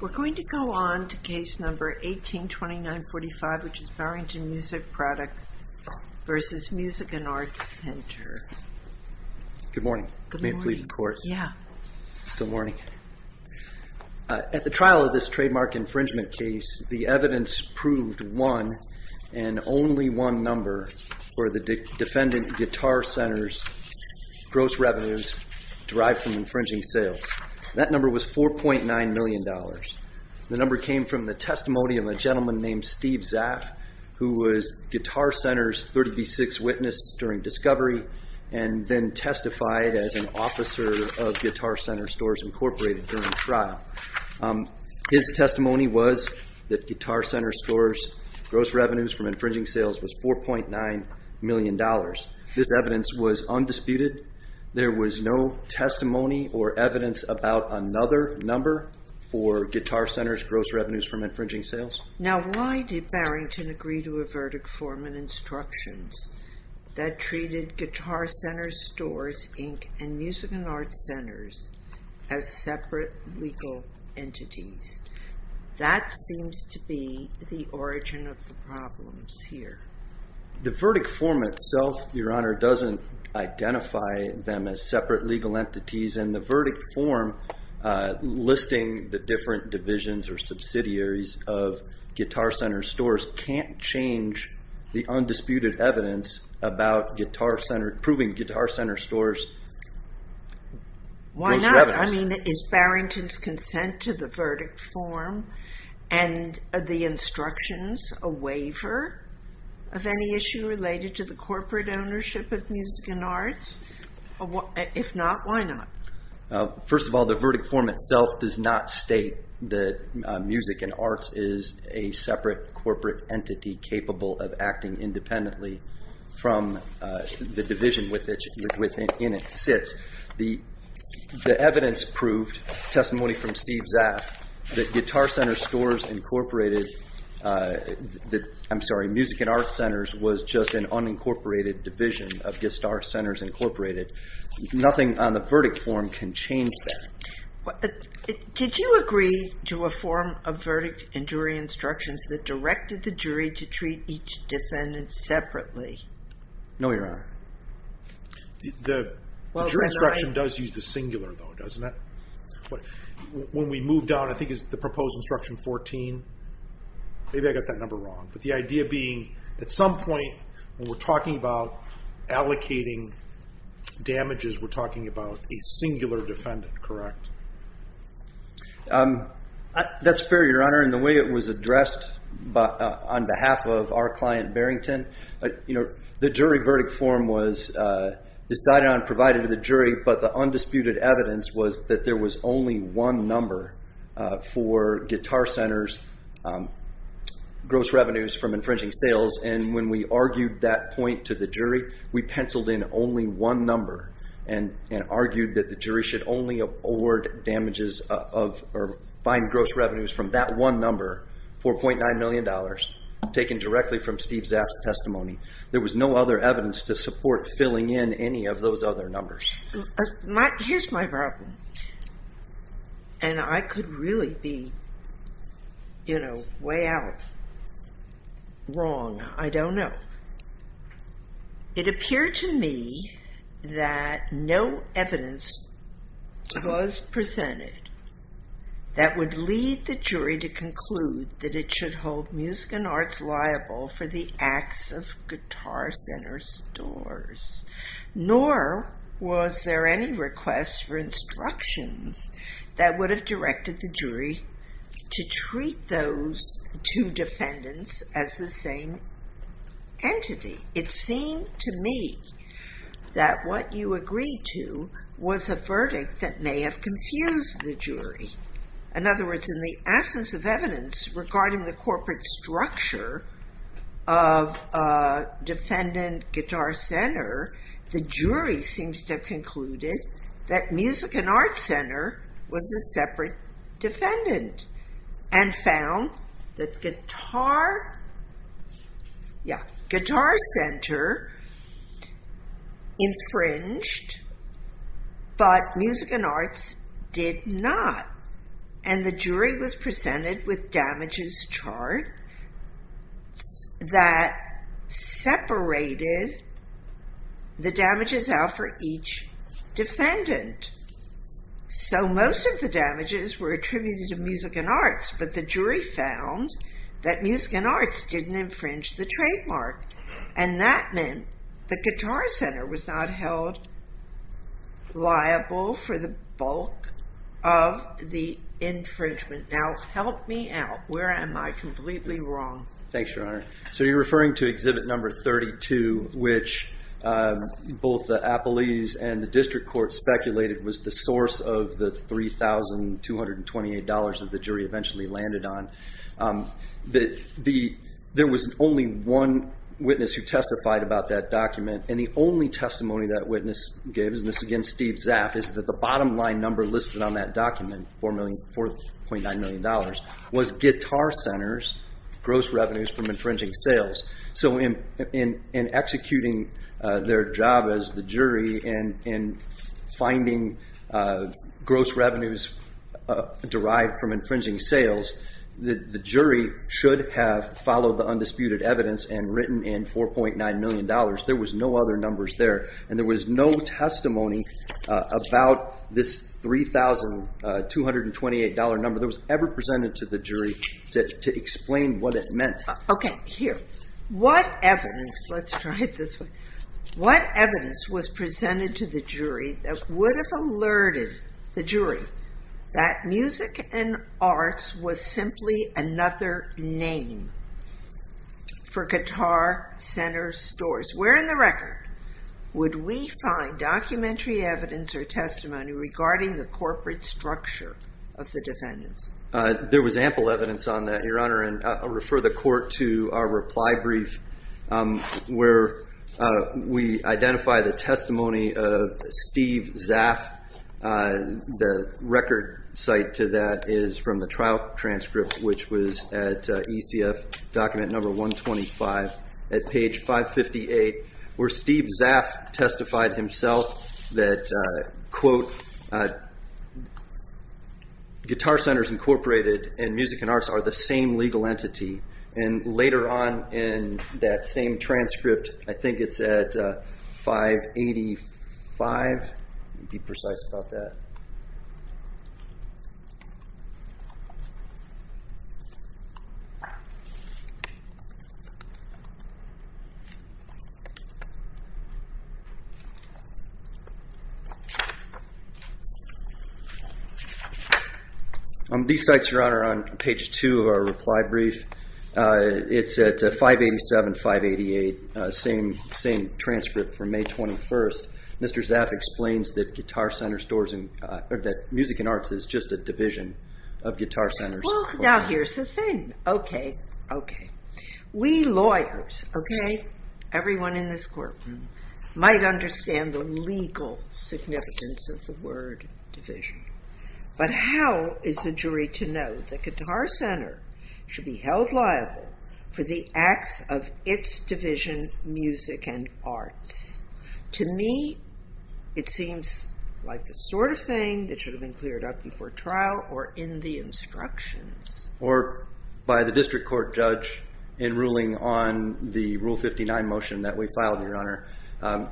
We're going to go on to Case No. 18-2945, which is Barrington Music Products v. Music & Arts Center. Good morning. May it please the Court? Yeah. Still morning. At the trial of this trademark infringement case, the evidence proved one and only one number for the defendant Guitar Center's gross revenues derived from infringing sales. That number was $4.9 million. The number came from the testimony of a gentleman named Steve Zaff, who was Guitar Center's 30B6 witness during discovery and then testified as an officer of Guitar Center Stores, Incorporated, during the trial. His testimony was that Guitar Center Stores' gross revenues from infringing sales was $4.9 million. This evidence was undisputed. There was no testimony or evidence about another number for Guitar Center's gross revenues from infringing sales. Now, why did Barrington agree to a verdict form and instructions that treated Guitar Center Stores, Inc. and Music & Arts Centers as separate legal entities? That seems to be the origin of the problems here. The verdict form itself, Your Honor, doesn't identify them as separate legal entities, and the verdict form listing the different divisions or subsidiaries of Guitar Center Stores can't change the undisputed evidence about proving Guitar Center Stores' gross revenues. related to the corporate ownership of Music & Arts? If not, why not? First of all, the verdict form itself does not state that Music & Arts is a separate corporate entity capable of acting independently from the division in which it sits. The evidence proved, testimony from Steve Zaff, that Music & Arts Centers was just an unincorporated division of Guitar Centers, Inc. Nothing on the verdict form can change that. Did you agree to a form of verdict and jury instructions that directed the jury to treat each defendant separately? No, Your Honor. The jury instruction does use the singular, though, doesn't it? When we move down, I think it's the proposed Instruction 14. Maybe I got that number wrong, but the idea being, at some point, when we're talking about allocating damages, we're talking about a singular defendant, correct? That's fair, Your Honor. In the way it was addressed on behalf of our client, Barrington, the jury verdict form was decided on and provided to the jury, but the undisputed evidence was that there was only one number for Guitar Centers' gross revenues from infringing sales. When we argued that point to the jury, we penciled in only one number and argued that the jury should only award damages or find gross revenues from that one number, $4.9 million, taken directly from Steve Zaff's testimony. There was no other evidence to support filling in any of those other numbers. Here's my problem, and I could really be way out wrong. I don't know. It appeared to me that no evidence was presented that would lead the jury to conclude that it should hold Music and Arts liable for the acts of Guitar Center stores. Nor was there any request for instructions that would have directed the jury to treat those two defendants as the same entity. It seemed to me that what you agreed to was a verdict that may have confused the jury. In other words, in the absence of evidence regarding the corporate structure of defendant Guitar Center, the jury seems to have concluded that Music and Arts Center was a separate defendant and found that Guitar Center infringed, but Music and Arts did not. The jury was presented with damages chart that separated the damages out for each defendant. Most of the damages were attributed to Music and Arts, but the jury found that Music and Arts didn't infringe the trademark, and that meant that Guitar Center was not held liable for the bulk of the infringement. Now, help me out. Where am I completely wrong? Thanks, Your Honor. So you're referring to exhibit number 32, which both the appellees and the district court speculated was the source of the $3,228 that the jury eventually landed on. There was only one witness who testified about that document, and the only testimony that witness gave, and this, again, Steve Zaff, is that the bottom line number listed on that document, $4.9 million, was Guitar Center's gross revenues from infringing sales. So in executing their job as the jury in finding gross revenues derived from infringing sales, the jury should have followed the undisputed evidence and written in $4.9 million. There was no other numbers there, and there was no testimony about this $3,228 number. It was never presented to the jury to explain what it meant. Okay, here. What evidence, let's try it this way, what evidence was presented to the jury that would have alerted the jury that Music and Arts was simply another name for Guitar Center stores? Where in the record would we find documentary evidence or testimony regarding the corporate structure of the defendants? There was ample evidence on that, Your Honor, and I'll refer the court to our reply brief where we identify the testimony of Steve Zaff. The record site to that is from the trial transcript, which was at ECF document number 125 at page 558, where Steve Zaff testified himself that, quote, These sites, Your Honor, on page two of our reply brief, it's at 587588, same transcript from May 21st. Mr. Zaff explains that Music and Arts is just a division of Guitar Center. Well, now here's the thing. Okay, okay. We lawyers, okay, everyone in this courtroom, might understand the legal significance of the word division. But how is a jury to know that Guitar Center should be held liable for the acts of its division, Music and Arts? To me, it seems like the sort of thing that should have been cleared up before trial or in the instructions. Or by the district court judge in ruling on the Rule 59 motion that we filed, Your Honor.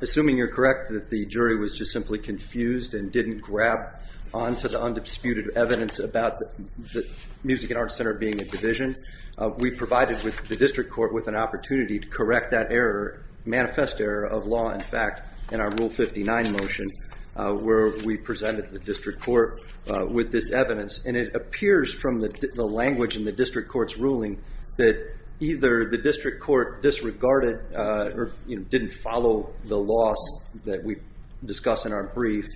Assuming you're correct that the jury was just simply confused and didn't grab onto the undisputed evidence about the Music and Arts Center being a division, we provided the district court with an opportunity to correct that manifest error of law, in fact, in our Rule 59 motion, where we presented the district court with this evidence. And it appears from the language in the district court's ruling that either the district court disregarded or didn't follow the laws that we discuss in our brief,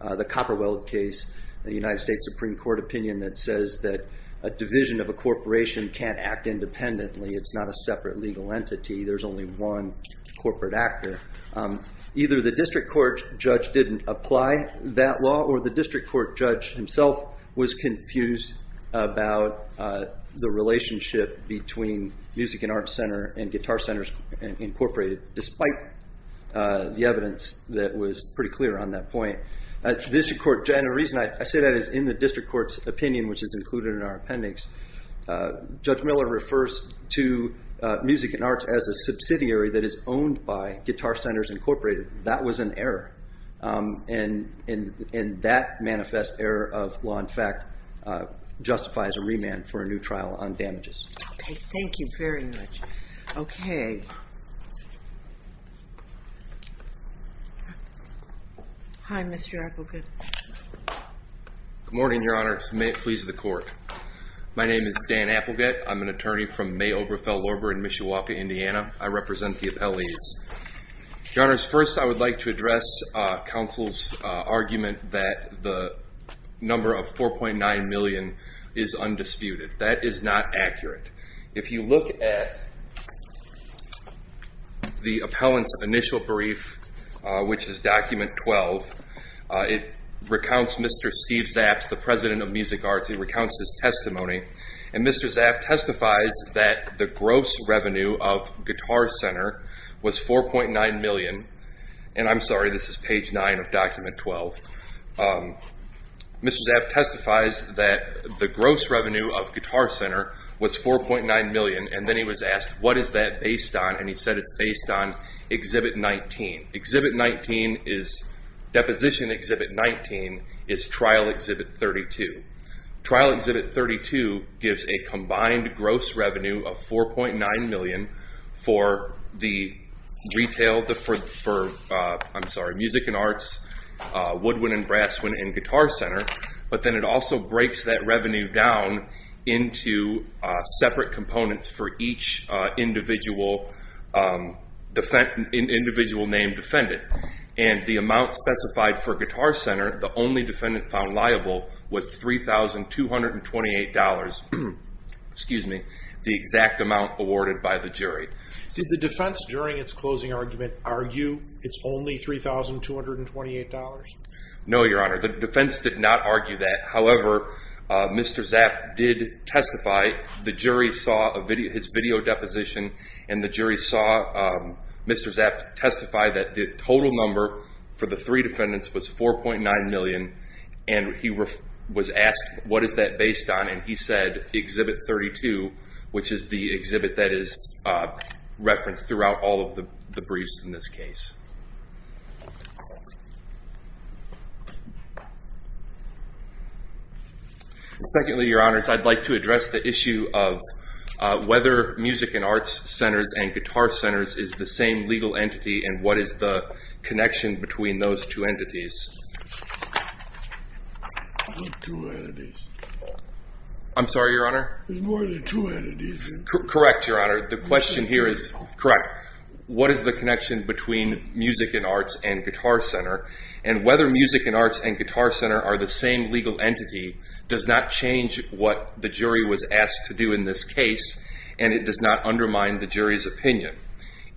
the Copperwell case, the United States Supreme Court opinion that says that a division of a corporation can't act independently. It's not a separate legal entity. There's only one corporate actor. Either the district court judge didn't apply that law or the district court judge himself was confused about the relationship between Music and Arts Center and Guitar Centers Incorporated, despite the evidence that was pretty clear on that point. The district court judge, and the reason I say that is in the district court's opinion, which is included in our appendix, Judge Miller refers to Music and Arts as a subsidiary that is owned by Guitar Centers Incorporated. That was an error. And that manifest error of law, in fact, justifies a remand for a new trial on damages. Okay, thank you very much. Okay. Hi, Mr. Applegate. Good morning, Your Honor. May it please the court. My name is Dan Applegate. I'm an attorney from May Oberfeld Lorber in Mishawaka, Indiana. I represent the appellees. Your Honors, first I would like to address counsel's argument that the number of $4.9 million is undisputed. That is not accurate. If you look at the appellant's initial brief, which is document 12, it recounts Mr. Steve Zaps, the president of Music Arts. It recounts his testimony. And Mr. Zaps testifies that the gross revenue of Guitar Center was $4.9 million. And I'm sorry, this is page 9 of document 12. Mr. Zaps testifies that the gross revenue of Guitar Center was $4.9 million. And then he was asked, what is that based on? And he said it's based on Exhibit 19. Exhibit 19 is Deposition Exhibit 19 is Trial Exhibit 32. Trial Exhibit 32 gives a combined gross revenue of $4.9 million for Music and Arts, Woodwind and Brass and Guitar Center. But then it also breaks that revenue down into separate components for each individual named defendant. And the amount specified for Guitar Center, the only defendant found liable, was $3,228. Excuse me. The exact amount awarded by the jury. Did the defense during its closing argument argue it's only $3,228? No, Your Honor. The defense did not argue that. However, Mr. Zaps did testify. The jury saw his video deposition and the jury saw Mr. Zaps testify that the total number for the three defendants was $4.9 million. And he was asked, what is that based on? And he said Exhibit 32, which is the exhibit that is referenced throughout all of the briefs in this case. Secondly, Your Honors, I'd like to address the issue of whether Music and Arts Centers and Guitar Centers is the same legal entity and what is the connection between those two entities. I'm sorry, Your Honor. There's more than two entities. Correct, Your Honor. The question here is, correct. What is the connection between Music and Arts and Guitar Center? And whether Music and Arts and Guitar Center are the same legal entity does not change what the jury was asked to do in this case, and it does not undermine the jury's opinion.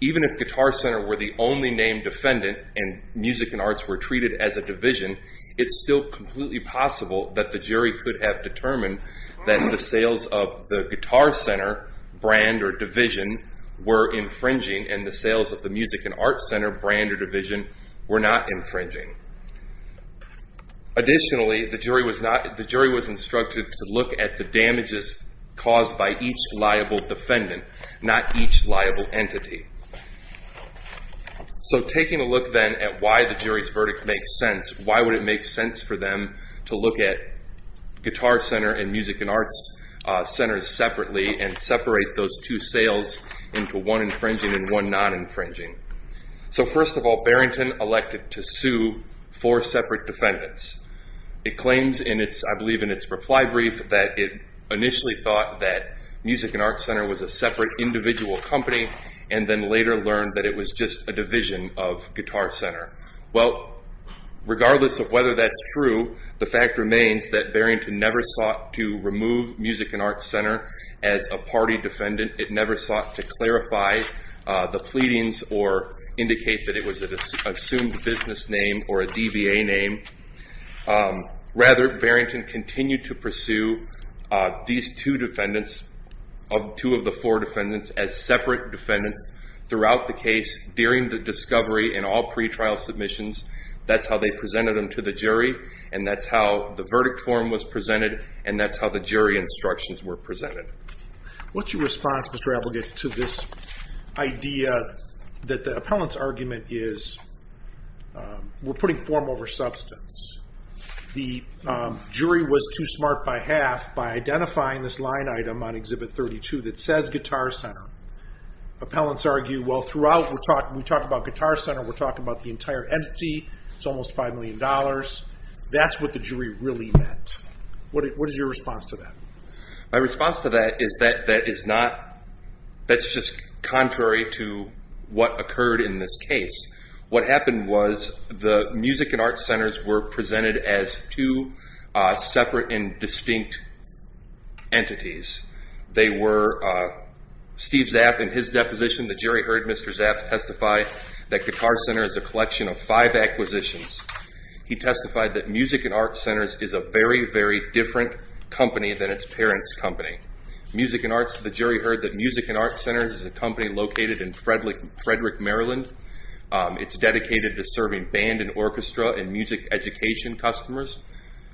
Even if Guitar Center were the only named defendant and Music and Arts were treated as a division, it's still completely possible that the jury could have determined that the sales of the Guitar Center brand or division were infringing and the sales of the Music and Arts Center brand or division were not infringing. Additionally, the jury was instructed to look at the damages caused by each liable defendant, not each liable entity. So taking a look then at why the jury's verdict makes sense, why would it make sense for them to look at Guitar Center and Music and Arts Centers separately and separate those two sales into one infringing and one non-infringing? So first of all, Barrington elected to sue four separate defendants. It claims in its, I believe, in its reply brief that it initially thought that Music and Arts Center was a separate individual company and then later learned that it was just a division of Guitar Center. Well, regardless of whether that's true, the fact remains that Barrington never sought to remove Music and Arts Center as a party defendant. It never sought to clarify the pleadings or indicate that it was an assumed business name or a DBA name. Rather, Barrington continued to pursue these two defendants, two of the four defendants, as separate defendants throughout the case during the discovery and all pre-trial submissions. That's how they presented them to the jury and that's how the verdict form was presented and that's how the jury instructions were presented. What's your response, Mr. Applegate, to this idea that the appellant's argument is we're putting form over substance? The jury was too smart by half by identifying this line item on Exhibit 32 that says Guitar Center. Appellants argue, well, throughout we talked about Guitar Center, we're talking about the entire entity, it's almost $5 million. That's what the jury really meant. What is your response to that? My response to that is that that is not, that's just contrary to what occurred in this case. What happened was the Music and Arts Centers were presented as two separate and distinct entities. They were, Steve Zaff in his deposition, the jury heard Mr. Zaff testify that Guitar Center is a collection of five acquisitions. He testified that Music and Arts Centers is a very, very different company than its parents' company. Music and Arts, the jury heard that Music and Arts Centers is a company located in Frederick, Maryland. It's dedicated to serving band and orchestra and music education customers.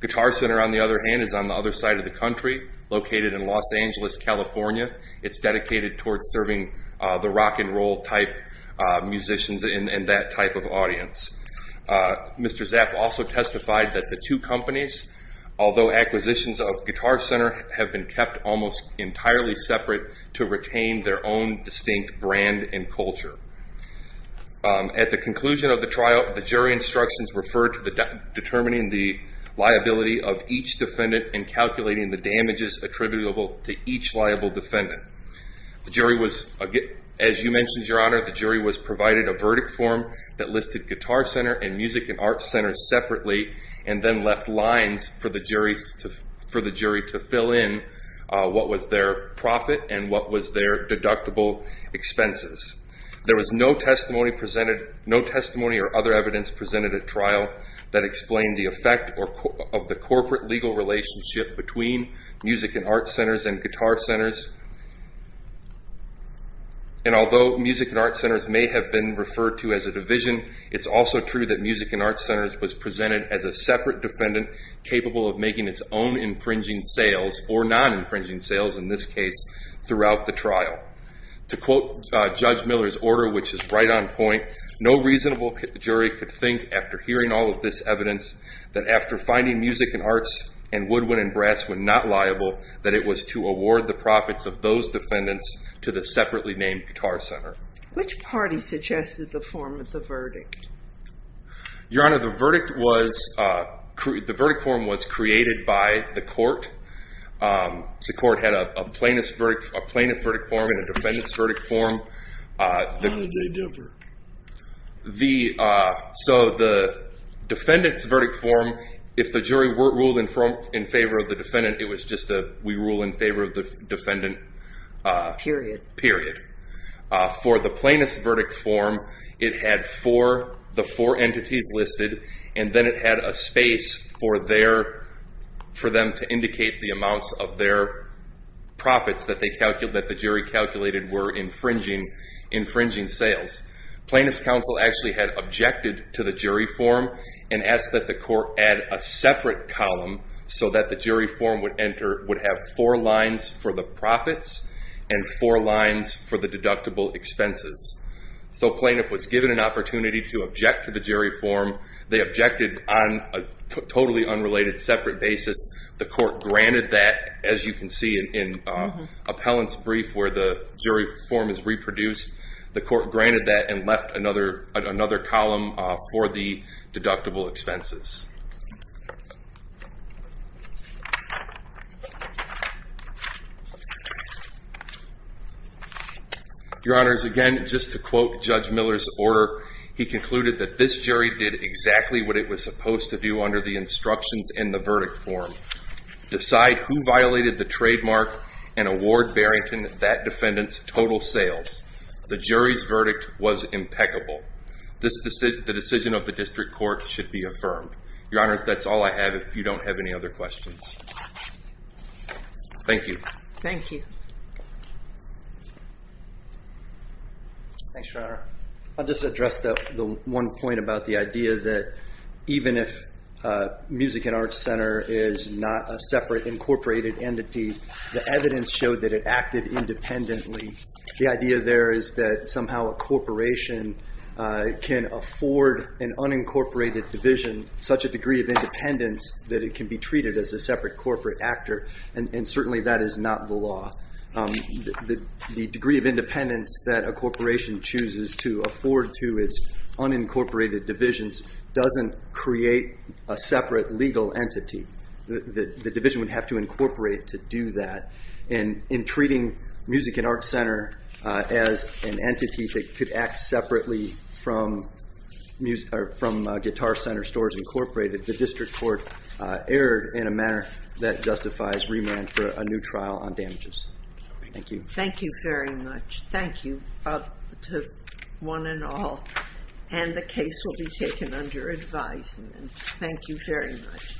Guitar Center, on the other hand, is on the other side of the country, located in Los Angeles, California. It's dedicated towards serving the rock and roll type musicians and that type of audience. Mr. Zaff also testified that the two companies, although acquisitions of Guitar Center, have been kept almost entirely separate to retain their own distinct brand and culture. At the conclusion of the trial, the jury instructions referred to determining the liability of each defendant and calculating the damages attributable to each liable defendant. As you mentioned, Your Honor, the jury was provided a verdict form that listed Guitar Center and Music and Arts Centers separately and then left lines for the jury to fill in what was their profit and what was their deductible expenses. There was no testimony or other evidence presented at trial that explained the effect of the corporate legal relationship between Music and Arts Centers and Guitar Centers. Although Music and Arts Centers may have been referred to as a division, it's also true that Music and Arts Centers was presented as a separate defendant capable of making its own infringing sales or non-infringing sales, in this case, throughout the trial. To quote Judge Miller's order, which is right on point, no reasonable jury could think, after hearing all of this evidence, that after finding Music and Arts and Woodwind and Brass were not liable, that it was to award the profits of those defendants to the separately named Guitar Center. Which party suggested the form of the verdict? Your Honor, the verdict form was created by the court. The court had a plaintiff verdict form and a defendant's verdict form. How did they differ? The defendant's verdict form, if the jury ruled in favor of the defendant, it was just that we rule in favor of the defendant. Period. Period. For the plaintiff's verdict form, it had the four entities listed, and then it had a space for them to indicate the amounts of their profits that the jury calculated were infringing sales. Plaintiff's counsel actually had objected to the jury form and asked that the court add a separate column so that the jury form would have four lines for the profits and four lines for the deductible expenses. So plaintiff was given an opportunity to object to the jury form. They objected on a totally unrelated, separate basis. The court granted that, as you can see in Appellant's brief where the jury form is reproduced. The court granted that and left another column for the deductible expenses. Your Honors, again, just to quote Judge Miller's order, he concluded that this jury did exactly what it was supposed to do under the instructions in the verdict form. Decide who violated the trademark and award Barrington that defendant's total sales. The jury's verdict was impeccable. The decision of the district court should be affirmed. Your Honors, that's all I have if you don't have any other questions. Thank you. Thank you. Thanks, Your Honor. I'll just address the one point about the idea that even if Music and Arts Center is not a separate incorporated entity, the evidence showed that it acted independently. The idea there is that somehow a corporation can afford an unincorporated division such a degree of independence that it can be treated as a separate corporate actor, and certainly that is not the law. The degree of independence that a corporation chooses to afford to its unincorporated divisions doesn't create a separate legal entity. The division would have to incorporate to do that, and in treating Music and Arts Center as an entity that could act separately from Guitar Center Stores Incorporated, the district court erred in a manner that justifies remand for a new trial on damages. Thank you. Thank you very much. Thank you to one and all, and the case will be taken under advisement. Thank you very much.